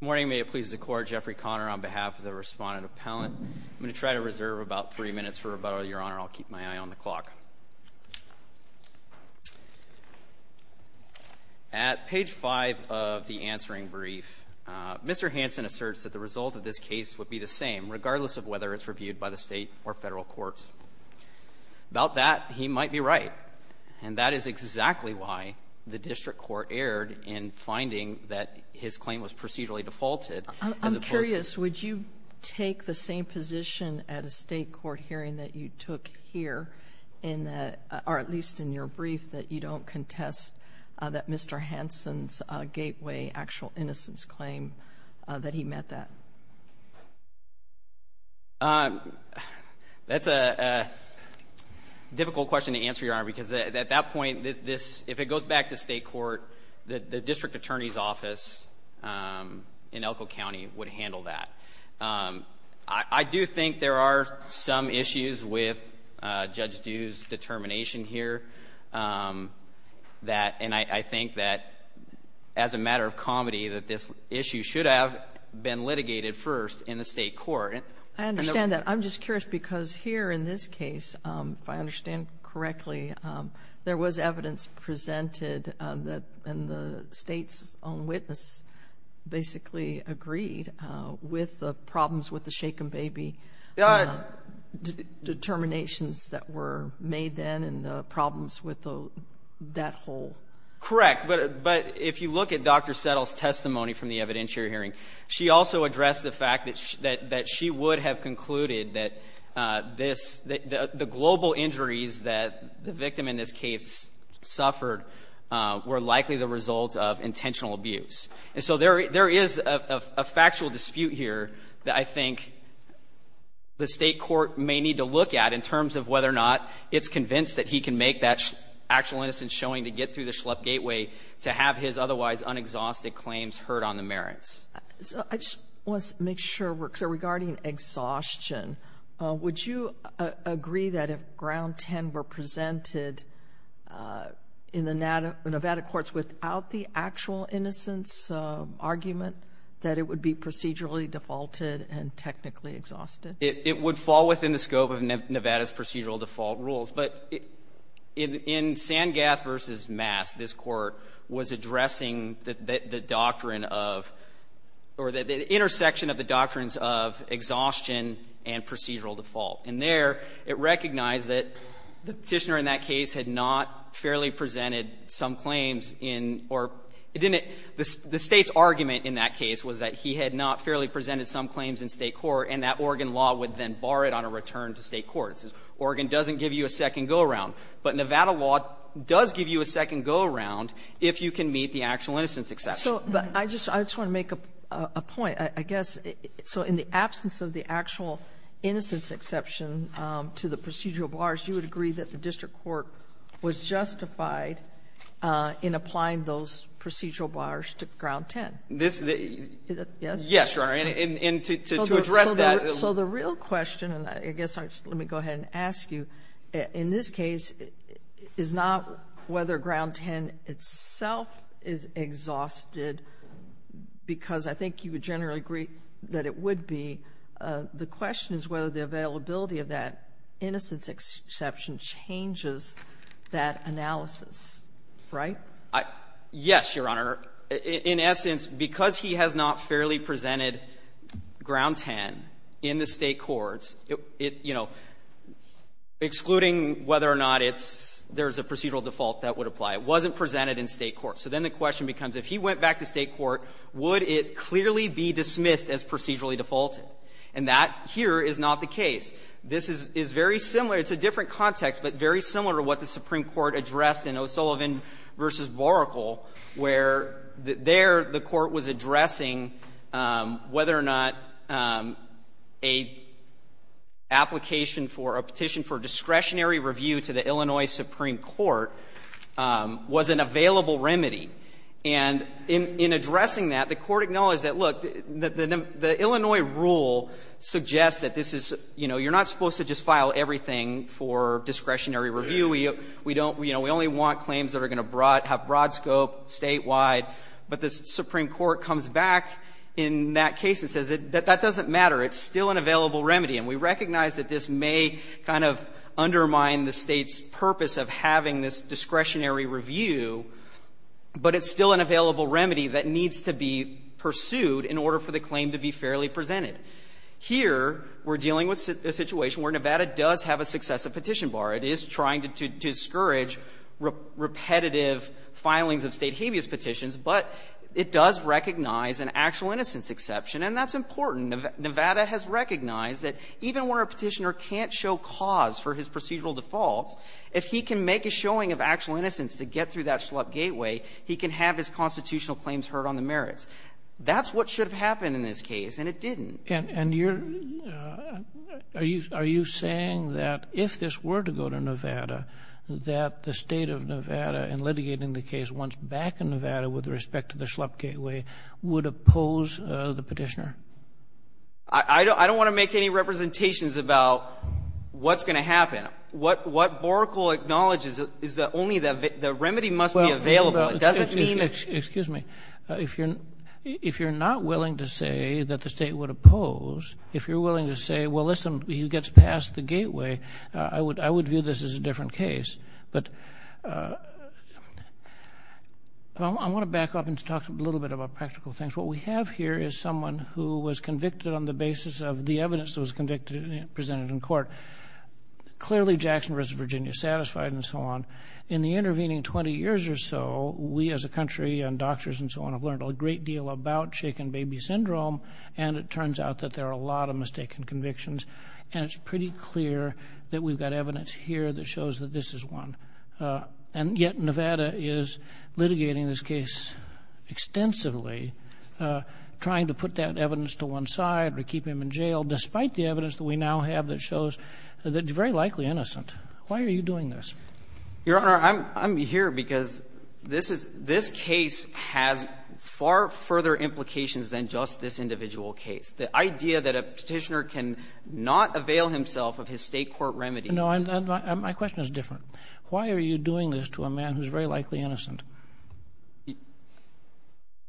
Good morning. May it please the Court, Jeffrey Conner on behalf of the Respondent Appellant. I'm going to try to reserve about three minutes for rebuttal, Your Honor. I'll keep my eye on the clock. At page 5 of the answering brief, Mr. Hanson asserts that the result of this case would be the same, regardless of whether it's reviewed by the state or federal courts. About that, he might be right. And that is exactly why the district court erred in finding that his claim was procedurally defaulted. I'm curious, would you take the same position at a state court hearing that you took here, or at least in your brief, that you don't contest that Mr. Hanson's gateway actual innocence claim, that he met that? That's a difficult question to answer, Your Honor, because at that point, if it goes back to state court, the district attorney's office in Elko County would handle that. I do think there are some issues with Judge Dew's determination here, and I think that as a matter of comedy, that this issue should have been litigated first in the state court. I understand that. I'm just curious, because here in this case, if I understand correctly, there was evidence presented that the state's own witness basically agreed with the problems with the shaken baby determinations that were made then, and the problems with that whole? Correct. But if you look at Dr. Settle's testimony from the evidentiary hearing, she also addressed the fact that she would have concluded that the global injuries that the victim in this case suffered were likely the result of intentional abuse. And so there is a factual dispute here that I think the state court may need to look at in terms of whether or not it's convinced that he can make that actual innocence showing to get through the Schlepp Gateway to have his otherwise unexhausted claims heard on the merits. Regarding exhaustion, would you agree that if Ground 10 were presented in the Nevada courts without the actual innocence argument, that it would be procedurally defaulted and technically exhausted? It would fall within the scope of Nevada's procedural default rules. But in Sangath v. Mass, this court was addressing the doctrine of, or the intersection of the doctrines of exhaustion and procedural default. And there, it recognized that the Petitioner in that case had not fairly presented some claims in, or it didn't the State's argument in that case was that he had not fairly presented some claims in State court, and that Oregon law would then bar it on a return to State court. Oregon doesn't give you a second go-around, but Nevada law does give you a second go-around if you can meet the actual innocence exception. But I just want to make a point, I guess. So in the absence of the actual innocence exception to the procedural bars, you would agree that the district court was justified in applying those procedural bars to Ground 10? Yes. Yes, Your Honor. And to address that So the real question, and I guess let me go ahead and ask you, in this case, is not whether Ground 10 itself is exhausted, because I think you would generally agree that it would be. The question is whether the availability of that innocence exception changes that analysis, right? Yes, Your Honor. In essence, because he has not fairly presented Ground 10 in the State courts, it, you know, excluding whether or not it's, there's a procedural default that would apply, it wasn't presented in State court. So then the question becomes, if he went back to State court, would it clearly be dismissed as procedurally defaulted? And that here is not the case. This is very similar. It's a different context, but very similar to what the Supreme Court addressed in O'Sullivan v. Boracle, where there the Court was addressing whether or not a application for a petition for discretionary review to the Illinois Supreme Court was an available remedy. And in addressing that, the Court acknowledged that, look, the Illinois rule suggests that this is, you know, you're not supposed to just file everything for discretionary review. We don't, you know, we only want claims that are going to have broad scope statewide. But the Supreme Court comes back in that case and says that that doesn't matter. It's still an available remedy. And we recognize that this may kind of undermine the State's purpose of having this petition, but it's still an available remedy that needs to be pursued in order for the claim to be fairly presented. Here we're dealing with a situation where Nevada does have a successive petition bar. It is trying to discourage repetitive filings of State habeas petitions, but it does recognize an actual innocence exception, and that's important. Nevada has recognized that even where a petitioner can't show cause for his procedural defaults, if he can make a showing of actual innocence to get through that schlup gateway, he can have his constitutional claims heard on the merits. That's what should have happened in this case, and it didn't. And you're — are you saying that if this were to go to Nevada, that the State of Nevada in litigating the case once back in Nevada with respect to the schlup gateway would oppose the petitioner? I don't want to make any representations about what's going to happen. What Borickel acknowledges is that only the remedy must be available. It doesn't mean — Well, excuse me. If you're not willing to say that the State would oppose, if you're willing to say, well, listen, he gets past the gateway, I would view this as a different case. But I want to back up and talk a little bit about practical things. What we have here is someone who was convicted on the basis of the evidence that was convicted and presented in court. Clearly, Jackson, Virginia, satisfied and so on. In the intervening 20 years or so, we as a country and doctors and so on have learned a great deal about shaken baby syndrome, and it turns out that there are a lot of mistaken convictions. And it's pretty clear that we've got evidence here that shows that this is one. And yet, Nevada is litigating this case extensively, trying to put that evidence to one side or keep him in jail, despite the evidence that we now have that shows that he's very likely innocent. Why are you doing this? Your Honor, I'm here because this case has far further implications than just this individual case. The idea that a petitioner can not avail himself of his State court remedies — No, my question is different. Why are you doing this to a man who's very likely innocent?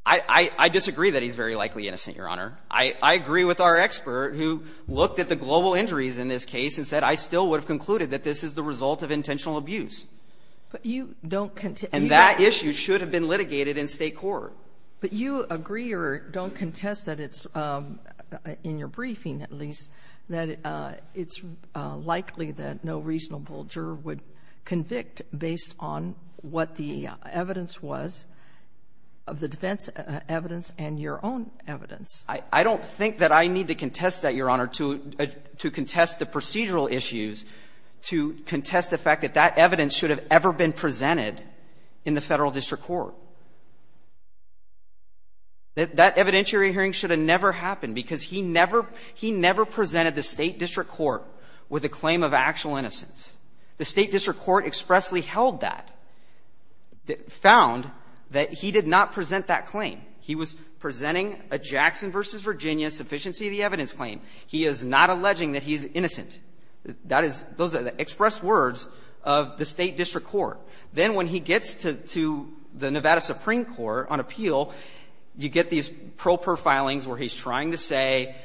I disagree that he's very likely innocent, Your Honor. I agree with our expert who looked at the global injuries in this case and said, I still would have concluded that this is the result of intentional abuse. But you don't — And that issue should have been litigated in State court. But you agree or don't contest that it's — in your briefing, at least, that it's likely that no reasonable juror would convict based on what the evidence was of the defense evidence and your own evidence. I don't think that I need to contest that, Your Honor, to contest the procedural issues, to contest the fact that that evidence should have ever been presented in the Federal district court. That evidentiary hearing should have never happened, because he never — he never presented the State district court with a claim of actual innocence. The State district court expressly held that, found that he did not present that claim. He was presenting a Jackson v. Virginia sufficiency of the evidence claim. He is not alleging that he is innocent. That is — those are the express words of the State district court. Then when he gets to the Nevada Supreme Court on appeal, you get these pro-per filings where he's trying to say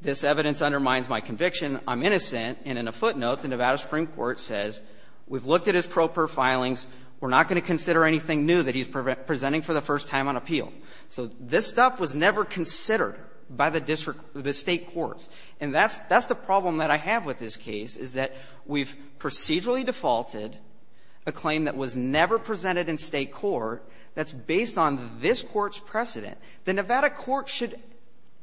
this evidence undermines my conviction, I'm innocent. And in a footnote, the Nevada Supreme Court says we've looked at his pro-per filings. We're not going to consider anything new that he's presenting for the first time on appeal. So this stuff was never considered by the district — the State courts. And that's — that's the problem that I have with this case, is that we've procedurally defaulted a claim that was never presented in State court that's based on this court's precedent. The Nevada court should,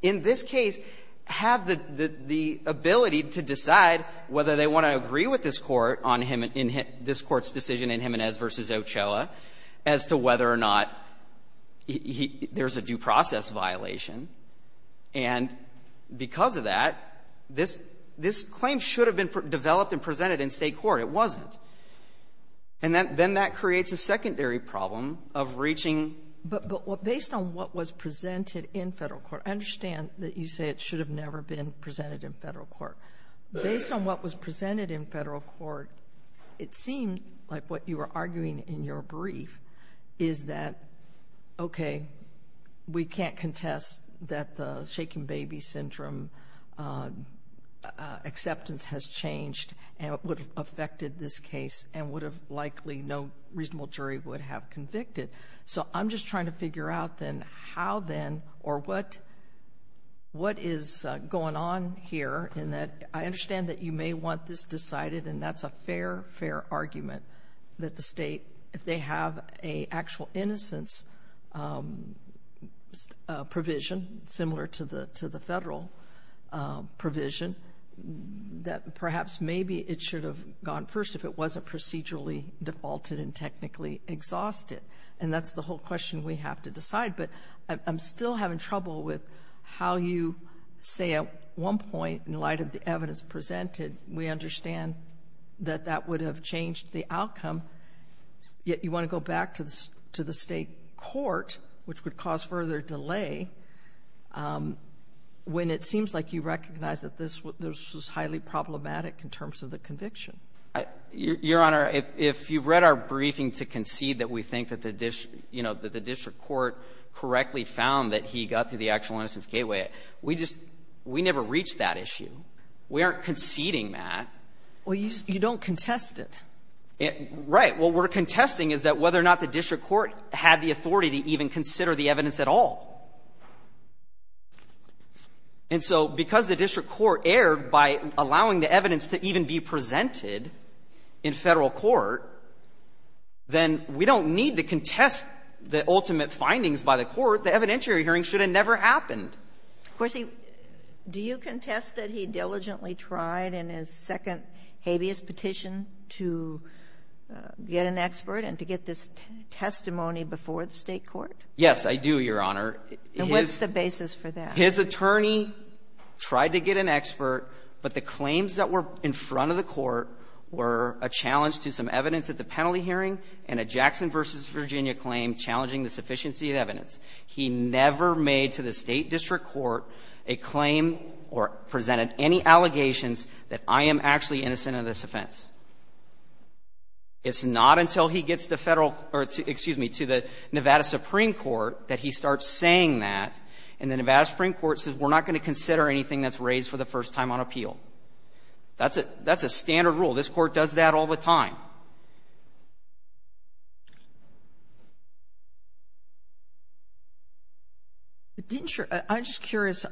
in this case, have the — the ability to decide whether they want to agree with this court on him and — this court's decision in Jimenez v. Ochoa as to whether or not he — there's a due process violation. And because of that, this — this claim should have been developed and presented in State court. It wasn't. And then — then that creates a secondary problem of reaching — But — but based on what was presented in Federal court — I understand that you say it should have never been presented in Federal court. Based on what was presented in Federal court, it seemed like what you were arguing in your brief is that, OK, we can't contest that the shaking baby syndrome acceptance has changed and it would have affected this case and would have likely — no reasonable jury would have convicted. So I'm just trying to figure out, then, how, then, or what — what is going on here in that I understand that you may want this decided, and that's a fair, fair argument that the State, if they have a actual innocence provision similar to the — to the Federal provision, that perhaps maybe it should have gone first if it wasn't procedurally defaulted and technically exhausted. And that's the whole question we have to decide. But I'm still having trouble with how you say at one point, in light of the evidence presented, we understand that that would have changed the outcome, yet you want to go back to the — to the State court, which would cause further delay, when it seems like you recognize that this was highly problematic in terms of the conviction. Your Honor, if you read our briefing to concede that we think that the — you know, that the district court correctly found that he got through the actual innocence gateway, we just — we never reached that issue. We aren't conceding that. Well, you don't contest it. Right. What we're contesting is that whether or not the district court had the authority to even consider the evidence at all. And so because the district court erred by allowing the evidence to even be presented in Federal court, then we don't need to contest the ultimate findings by the court. The evidentiary hearing should have never happened. Of course, he — do you contest that he diligently tried in his second habeas petition to get an expert and to get this testimony before the State court? Yes, I do, Your Honor. And what's the basis for that? His attorney tried to get an expert, but the claims that were in front of the court were a challenge to some evidence at the penalty hearing and a Jackson v. Virginia claim challenging the sufficiency of evidence. He never made to the State district court a claim or presented any allegations that I am actually innocent of this offense. It's not until he gets to Federal — or, excuse me, to the Nevada Supreme Court that he starts saying that, and the Nevada Supreme Court says, we're not going to consider anything that's raised for the first time on appeal. That's a standard rule. This Court does that all the time. I'm just curious.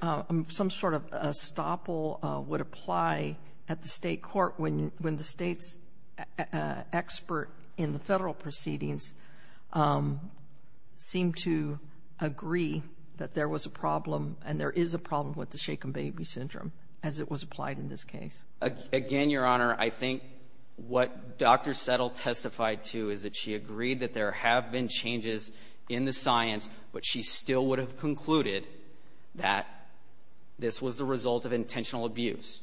Some sort of estoppel would apply at the State court when the State's expert in the that there was a problem, and there is a problem with the shaken baby syndrome as it was applied in this case. Again, Your Honor, I think what Dr. Settle testified to is that she agreed that there have been changes in the science, but she still would have concluded that this was the result of intentional abuse.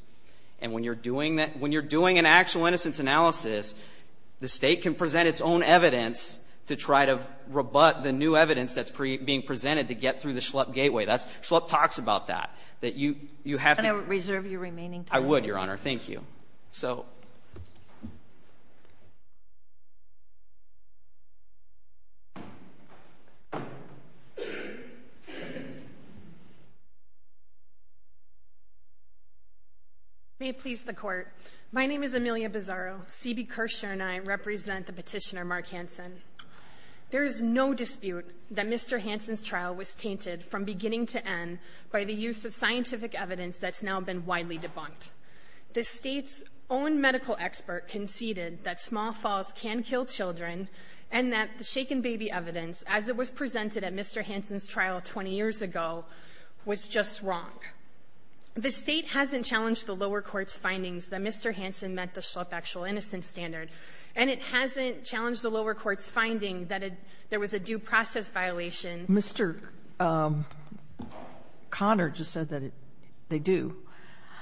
And when you're doing an actual innocence analysis, the State can present its own evidence to try to rebut the new evidence that's being presented to get through the Schlupp Gateway. Schlupp talks about that. And I would reserve your remaining time. I would, Your Honor. Thank you. May it please the Court. My name is Amelia Bizzaro. C.B. Kirschner and I represent the petitioner Mark Hansen. There is no dispute that Mr. Hansen's trial was tainted from beginning to end by the use of scientific evidence that's now been widely debunked. The State's own medical expert conceded that small falls can kill children and that the shaken baby evidence, as it was presented at Mr. Hansen's trial 20 years ago, was just wrong. The State hasn't challenged the lower court's findings that Mr. Hansen met the Schlupp Actual Innocence Standard, and it hasn't challenged the lower court's finding that there was a due process violation. Mr. Conner just said that they do.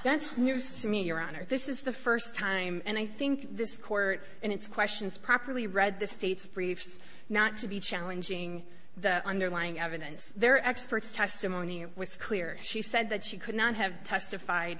That's news to me, Your Honor. This is the first time, and I think this Court in its questions properly read the State's briefs not to be challenging the underlying evidence. Their expert's testimony was clear. She said that she could not have testified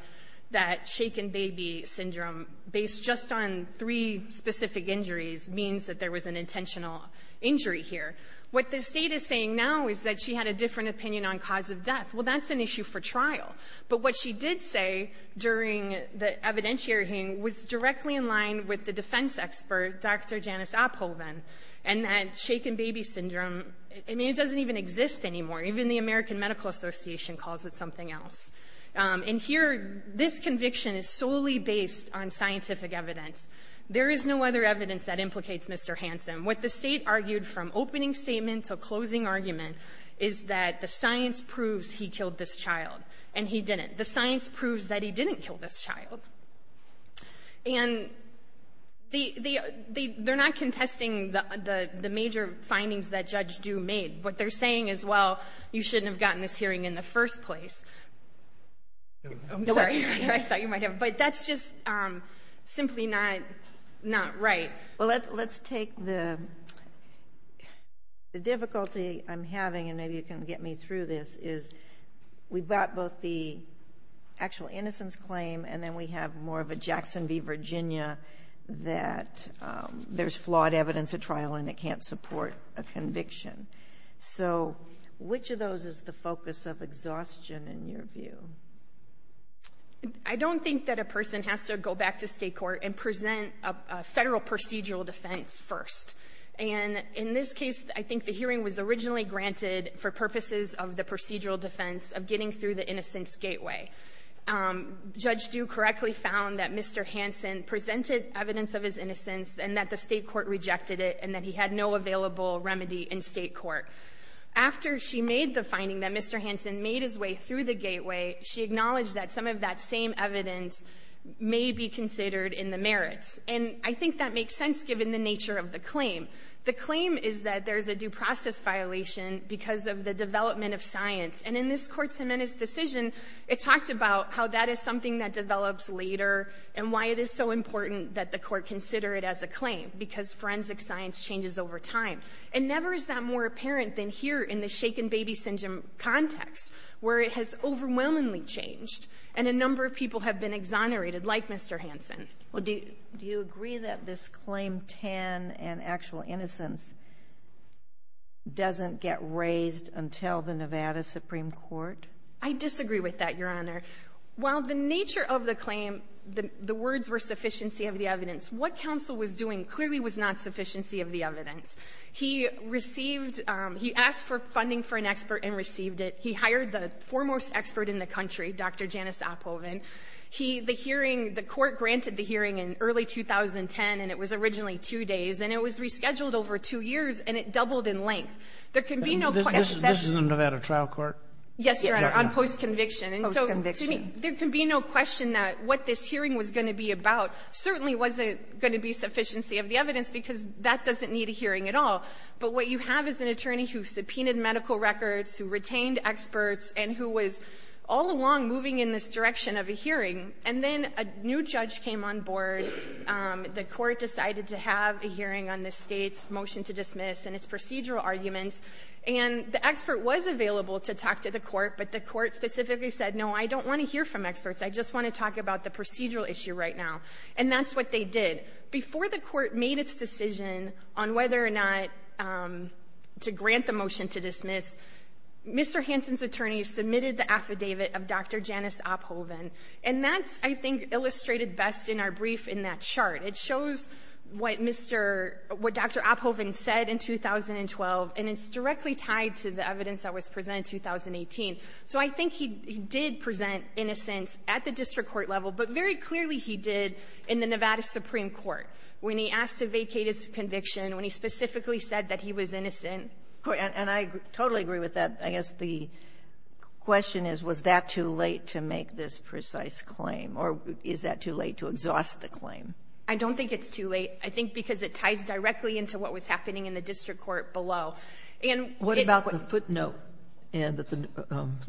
that shaken baby syndrome, based just on three specific injuries, means that there was an intentional injury here. What the State is saying now is that she had a different opinion on cause of death. Well, that's an issue for trial. But what she did say during the evidentiary hearing was directly in line with the defense expert, Dr. Janice Oppelman, and that shaken baby syndrome, I mean, it doesn't even exist anymore. Even the American Medical Association calls it something else. And here, this conviction is solely based on scientific evidence. There is no other evidence that implicates Mr. Hansen. What the State argued from opening statement to closing argument is that the science proves he killed this child, and he didn't. The science proves that he didn't kill this child. And they're not contesting the major findings that Judge Due made. What they're saying is, well, you shouldn't have gotten this hearing in the first place. I'm sorry. I thought you might have. But that's just simply not right. Well, let's take the difficulty I'm having, and maybe you can get me through this, is we've got both the actual innocence claim and then we have more of a Jackson v. Virginia that there's flawed evidence at trial and it can't support a conviction. So which of those is the focus of exhaustion in your view? I don't think that a person has to go back to state court and present a federal procedural defense first. And in this case, I think the hearing was originally granted for purposes of the procedural defense of getting through the innocence gateway. Judge Due correctly found that Mr. Hansen presented evidence of his innocence and that the state court rejected it and that he had no available remedy in state court. After she made the finding that Mr. Hansen made his way through the gateway, she acknowledged that some of that same evidence may be considered in the merits. And I think that makes sense given the nature of the claim. The claim is that there's a due process violation because of the development of science. And in this court's decision, it talked about how that is something that develops later and why it is so important that the court consider it as a claim because forensic science changes over time. And never is that more apparent than here in the shaken baby syndrome context where it has overwhelmingly changed and a number of people have been exonerated like Mr. Hansen. Do you agree that this claim 10 and actual innocence doesn't get raised until the Nevada Supreme Court? I disagree with that, Your Honor. While the nature of the claim, the words were sufficiency of the evidence, what counsel was doing clearly was not sufficiency of the evidence. He asked for funding for an expert and received it. He hired the foremost expert in the country, Dr. Janice Oppoven. The court granted the hearing in early 2010 and it was originally two days and it was rescheduled over two years and it doubled in length. There can be no question. This is in the Nevada trial court? Yes, Your Honor, on post-conviction. Post-conviction. There can be no question that what this hearing was going to be about certainly wasn't going to be sufficiency of the evidence because that doesn't need a hearing at all. But what you have is an attorney who subpoenaed medical records, who retained experts and who was all along moving in this direction of a hearing and then a new judge came on board. The court decided to have a hearing on this state's motion to dismiss and its procedural arguments and the expert was available to talk to the court, but the court specifically said, no, I don't want to hear from experts. I just want to talk about the procedural issue right now. And that's what they did. Before the court made its decision on whether or not to grant the motion to dismiss, Mr. Hansen's attorney submitted the affidavit of Dr. Janice Oppoven and that's, I think, illustrated best in our brief in that chart. It shows what Mr. — what Dr. Oppoven said in 2012 and it's directly tied to the evidence that was presented in 2018. So I think he did present innocence at the district court level, but very clearly he did in the Nevada Supreme Court when he asked to vacate his conviction, when he specifically said that he was innocent. And I totally agree with that. I guess the question is, was that too late to make this precise claim or is that too late to exhaust the claim? I don't think it's too late. I think because it ties directly into what was happening in the district court below. What about the footnote in the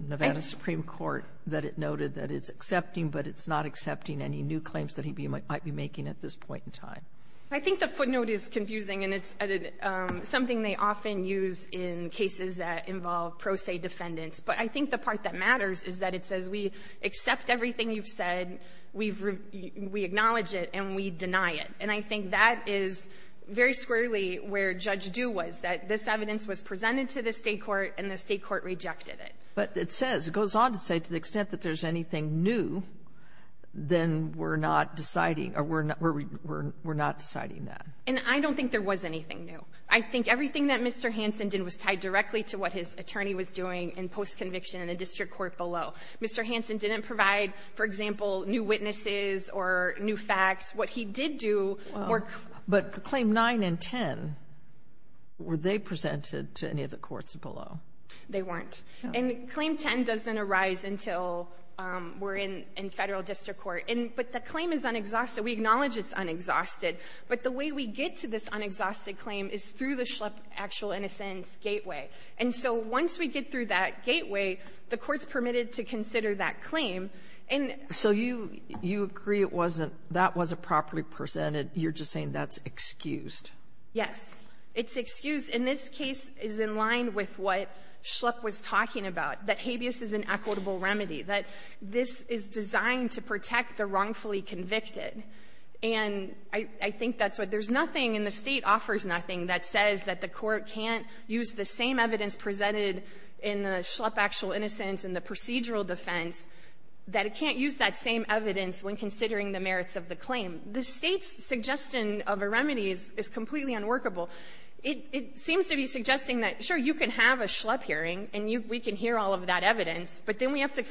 Nevada Supreme Court that it noted that it's accepting but it's not accepting any new claims that he might be making at this point in time? I think the footnote is confusing and it's something they often use in cases that involve pro se defendants. But I think the part that matters is that it says we accept everything you've said, we acknowledge it, and we deny it. And I think that is very squarely where Judge Due was, that this evidence was presented to the state court and the state court rejected it. But it says, it goes on to say to the extent that there's anything new, then we're not deciding or we're not deciding that. And I don't think there was anything new. I think everything that Mr. Hanson did was tied directly to what his attorney was doing in post-conviction in the district court below. Mr. Hanson didn't provide, for example, new witnesses or new facts. What he did do were... But Claim 9 and 10, were they presented to any of the courts below? They weren't. And Claim 10 doesn't arise until we're in federal district court. But the claim is unexhausted. We acknowledge it's unexhausted. But the way we get to this unexhausted claim is through the Schlupp Actual Innocence Gateway. And so once we get through that gateway, the court's permitted to consider that claim. And... So you agree it wasn't, that wasn't properly presented. You're just saying that's excused. Yes. It's excused. And this case is in line with what Schlupp was talking about, that habeas is an equitable remedy, that this is designed to protect the wrongfully convicted. And I think that's what... There's nothing, and the State offers nothing, that says that the court can't use the same evidence presented in the Schlupp Actual Innocence and the procedural defense, that it can't use that same evidence when considering the merits of the claim. The State's suggestion of a remedy is completely unworkable. It seems to be suggesting that, sure, you can have a Schlupp hearing, and we can hear all of that evidence. But we can't use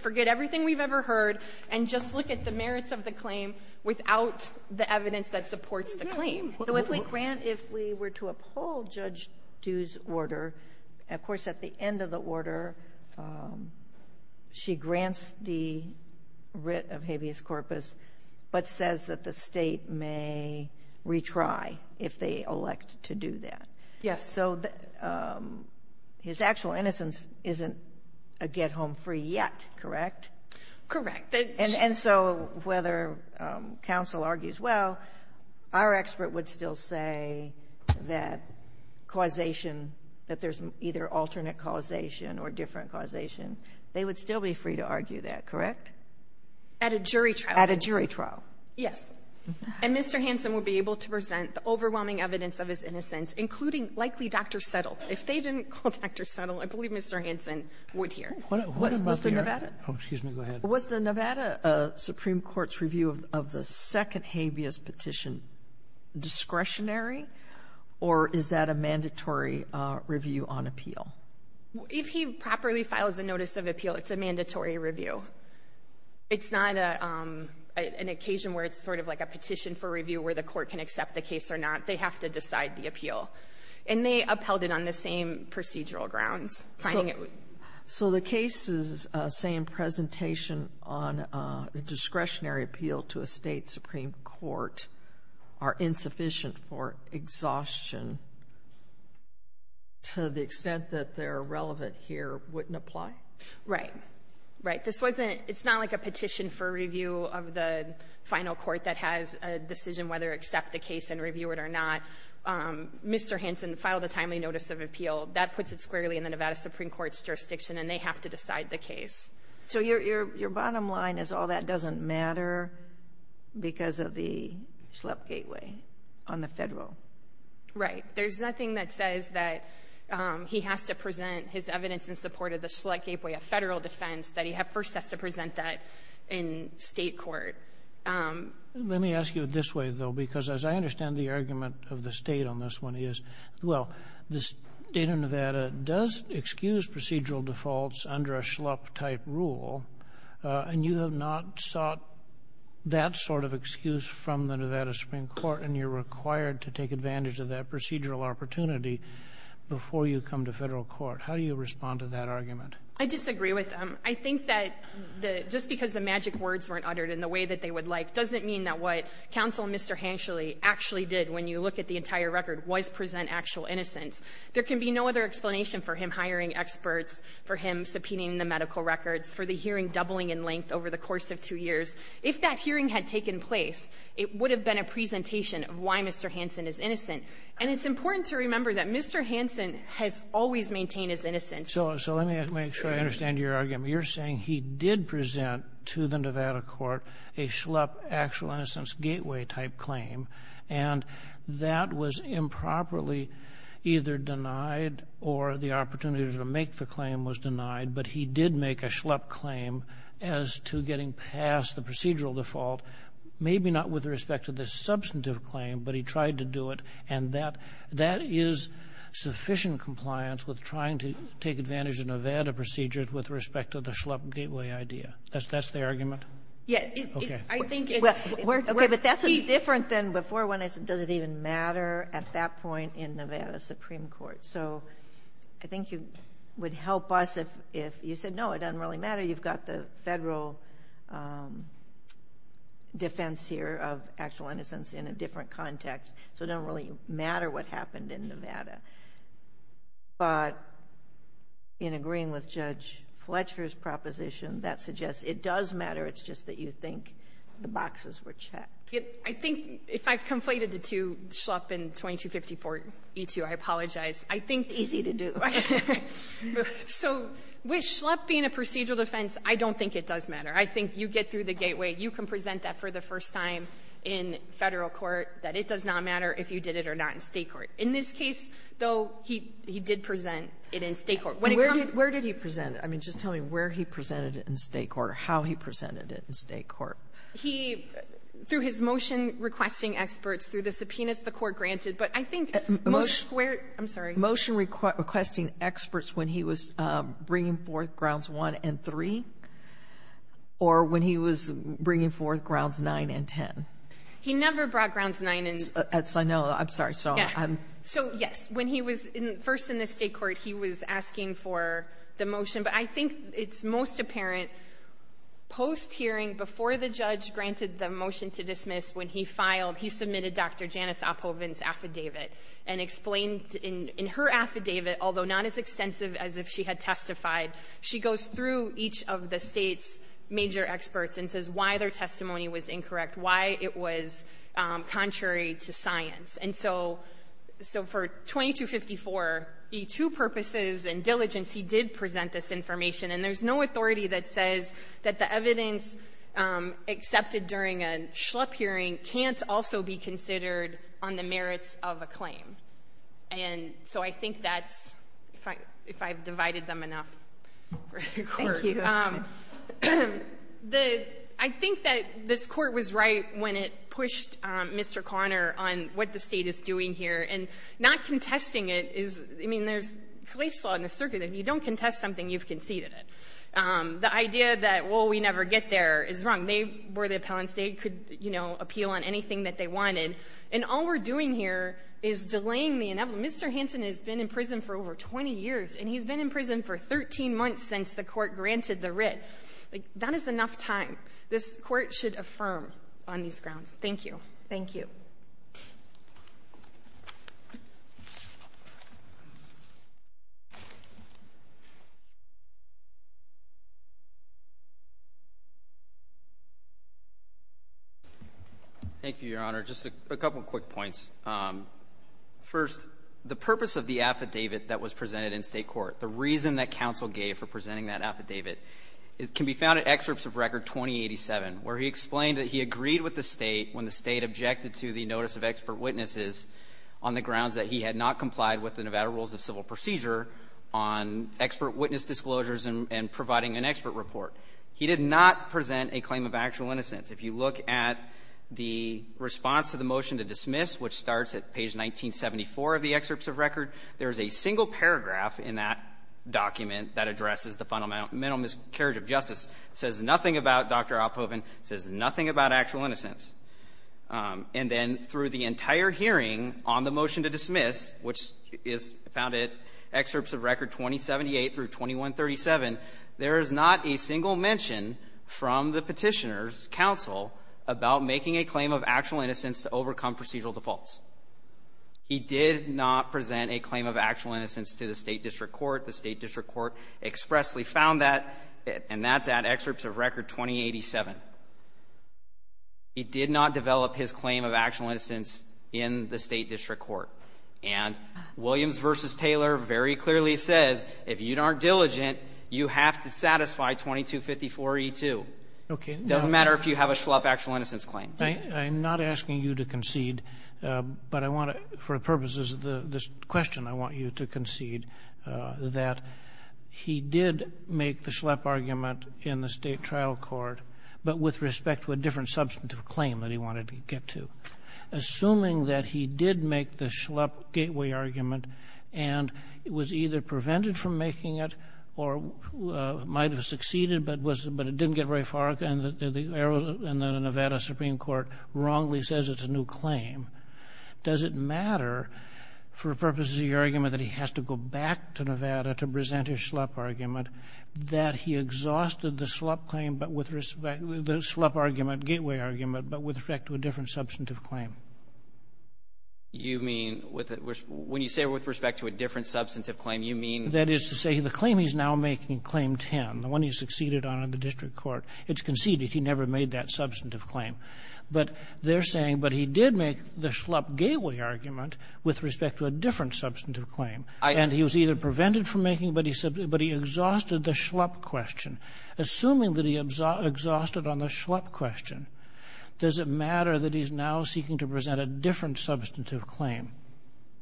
the merits of the claim without the evidence that supports the claim. So if we grant, if we were to uphold Judge Du's order, of course at the end of the order, she grants the writ of habeas corpus, but says that the State may retry if they elect to do that. Yes. So his actual innocence isn't a get-home-free yet, correct? Correct. And so whether counsel argues, well, our expert would still say that causation that there's either alternate causation or different causation, they would still be free to argue that, correct? At a jury trial. At a jury trial. Yes. And Mr. Hansen would be able to present the overwhelming evidence of his innocence, including likely Dr. Settle. If they didn't call Dr. Settle, I believe Mr. Hansen would hear. Was the Nevada? Oh, excuse me. Go ahead. Was the Nevada Supreme Court's review of the second habeas petition discretionary, or is that a mandatory review on appeal? If he properly files a notice of appeal, it's a mandatory review. It's not an occasion where it's sort of like a petition for review where the court can accept the case or not. They have to decide the appeal. And they upheld it on the same procedural grounds. So the case's same presentation on a discretionary appeal to a state Supreme Court are insufficient for exhaustion to the extent that they're relevant here wouldn't apply? Right. Right. It's not like a petition for review of the final court that has a decision whether to accept the case and review it or not. Mr. Hansen filed a timely notice of appeal. That puts it squarely in the Nevada Supreme Court's jurisdiction, and they have to decide the case. So your bottom line is all that doesn't matter because of the Schlepp Gateway on the federal? Right. There's nothing that says that he has to present his evidence in support of the Schlepp Gateway, a federal defense, that he first has to present that in state court. Let me ask you this way, though, because as I understand the argument of the Nevada does excuse procedural defaults under a Schlepp-type rule, and you have not sought that sort of excuse from the Nevada Supreme Court, and you're required to take advantage of that procedural opportunity before you come to federal court. How do you respond to that argument? I disagree with them. I think that just because the magic words weren't uttered in the way that they would like doesn't mean that what Counsel Mr. Hanschule actually did when you look at the entire record was present actual innocence. There can be no other explanation for him hiring experts, for him subpoenaing the medical records, for the hearing doubling in length over the course of two years. If that hearing had taken place, it would have been a presentation of why Mr. Hanson is innocent. And it's important to remember that Mr. Hanson has always maintained his innocence. So let me make sure I understand your argument. You're saying he did present to the Nevada court a Schlepp actual innocence gateway type claim, and that was improperly either denied or the opportunity to make the claim was denied, but he did make a Schlepp claim as to getting past the procedural default, maybe not with respect to the substantive claim, but he tried to do it. And that is sufficient compliance with trying to take advantage of Nevada procedures with respect to the Schlepp gateway idea. That's the argument? Yes. Okay. But that's different than before when I said, does it even matter at that point in Nevada Supreme Court? So I think you would help us if you said, no, it doesn't really matter. You've got the federal defense here of actual innocence in a different context, so it doesn't really matter what happened in Nevada. But in agreeing with Judge Fletcher's proposition, that suggests it does matter. It's just that you think the boxes were checked. I think if I've conflated the two, Schlepp and 2254E2, I apologize. Easy to do. So with Schlepp being a procedural defense, I don't think it does matter. I think you get through the gateway. You can present that for the first time in federal court, that it does not matter if you did it or not in state court. In this case, though, he did present it in state court. Where did he present it? I mean, just tell me where he presented it in state court or how he presented it in state court. Through his motion requesting experts, through the subpoenas the court granted. But I think most where – I'm sorry. Motion requesting experts when he was bringing forth Grounds 1 and 3 or when he was bringing forth Grounds 9 and 10? He never brought Grounds 9 and – I know. I'm sorry. So, yes, when he was first in the state court, he was asking for the motion. But I think it's most apparent post-hearing, before the judge granted the motion to dismiss, when he filed, he submitted Dr. Janice Oppoven's affidavit and explained in her affidavit, although not as extensive as if she had testified, she goes through each of the state's major experts and says why their testimony was incorrect, why it was contrary to science. And so for 2254, the two purposes and diligence, he did present this information. And there's no authority that says that the evidence accepted during a schlup hearing can't also be considered on the merits of a claim. And so I think that's – if I've divided them enough. Thank you. I think that this court was right when it pushed Mr. Conner on what the state is doing here and not contesting it is – I mean, there's – in the circuit, if you don't contest something, you've conceded it. The idea that, well, we never get there is wrong. They were the appellants. They could, you know, appeal on anything that they wanted. And all we're doing here is delaying the inevitable. Mr. Hansen has been in prison for over 20 years, and he's been in prison for 13 months since the court granted the writ. That is enough time. This court should affirm on these grounds. Thank you. Thank you. Thank you, Your Honor. Just a couple quick points. First, the purpose of the affidavit that was presented in state court, the reason that counsel gave for presenting that affidavit, can be found in excerpts of record 2087 where he explained that he agreed with the state when the state objected to the notice of expert witnesses on the grounds that he had not complied with the Nevada Rules of Civil Procedure on expert witness disclosures and providing an expert report. He did not present a claim of actual innocence. If you look at the response to the motion to dismiss, which starts at page 1974 of the excerpts of record, there is a single paragraph in that document that addresses the fundamental miscarriage of justice. It says nothing about Dr. Alpovan. It says nothing about actual innocence. And then through the entire hearing on the motion to dismiss, which is found in excerpts of record 2078 through 2137, there is not a single mention from the petitioner's counsel about making a claim of actual innocence to overcome procedural defaults. He did not present a claim of actual innocence to the state district court. The state district court expressly found that, and that's at excerpts of record 2087. He did not develop his claim of actual innocence in the state district court. And Williams v. Taylor very clearly says, if you aren't diligent, you have to satisfy 2254E2. Okay. It doesn't matter if you have a Schlepp actual innocence claim. I'm not asking you to concede, but I want to, for the purposes of this question, I want you to concede that he did make the Schlepp argument in the state trial court, but with respect to a different substantive claim that he wanted to get to. Assuming that he did make the Schlepp gateway argument and was either prevented from making it or might have succeeded but it didn't get very far and the Nevada Supreme Court wrongly says it's a new claim, does it matter for purposes of your argument that he has to go back to Nevada to present his Schlepp argument that he exhausted the Schlepp argument, gateway argument, but with respect to a different substantive claim? You mean with a — when you say with respect to a different substantive claim, you mean — That is to say, the claim he's now making, claim 10, the one he succeeded on in the district court, it's conceded. He never made that substantive claim. But they're saying, but he did make the Schlepp gateway argument with respect to a different substantive claim. And he was either prevented from making it, but he exhausted the Schlepp question. Assuming that he exhausted on the Schlepp question, does it matter that he's now seeking to present a different substantive claim?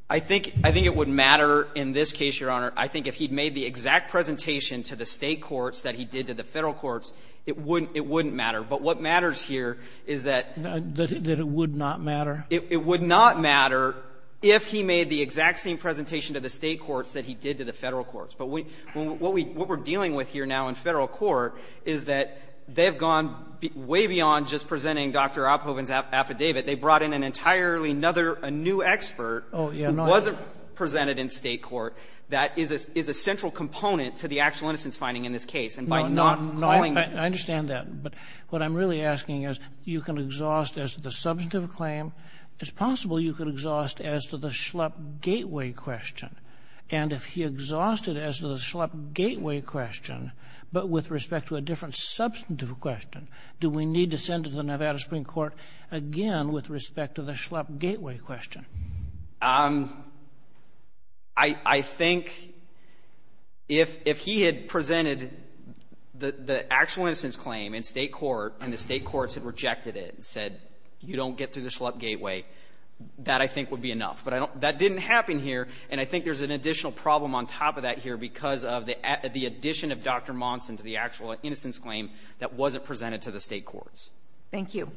I think it would matter in this case, Your Honor. I think if he'd made the exact presentation to the state courts that he did to the federal courts, it wouldn't matter. But what matters here is that — That it would not matter? It would not matter if he made the exact same presentation to the state courts that he did to the federal courts. But what we're dealing with here now in federal court is that they've gone way beyond just presenting Dr. Oppoven's affidavit. They brought in an entirely another — a new expert who wasn't presented in state court that is a central component to the actual innocence finding in this case. And by not calling — I understand that. But what I'm really asking is, you can exhaust as to the substantive claim. It's possible you could exhaust as to the Schlepp gateway question. And if he exhausted as to the Schlepp gateway question, but with respect to a different substantive question, do we need to send it to the Nevada Supreme Court again with respect to the Schlepp gateway question? I think if he had presented the actual innocence claim in state court and the state courts had rejected it and said, you don't get through the Schlepp gateway, that I think would be enough. But I don't — that didn't happen here. And I think there's an additional problem on top of that here because of the addition of Dr. Monson to the actual innocence claim that wasn't presented to the state courts. Thank you.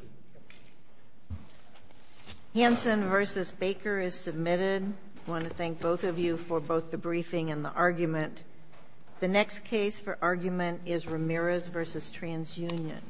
Hansen v. Baker is submitted. I want to thank both of you for both the briefing and the argument. The next case for argument is Ramirez v. TransUnion.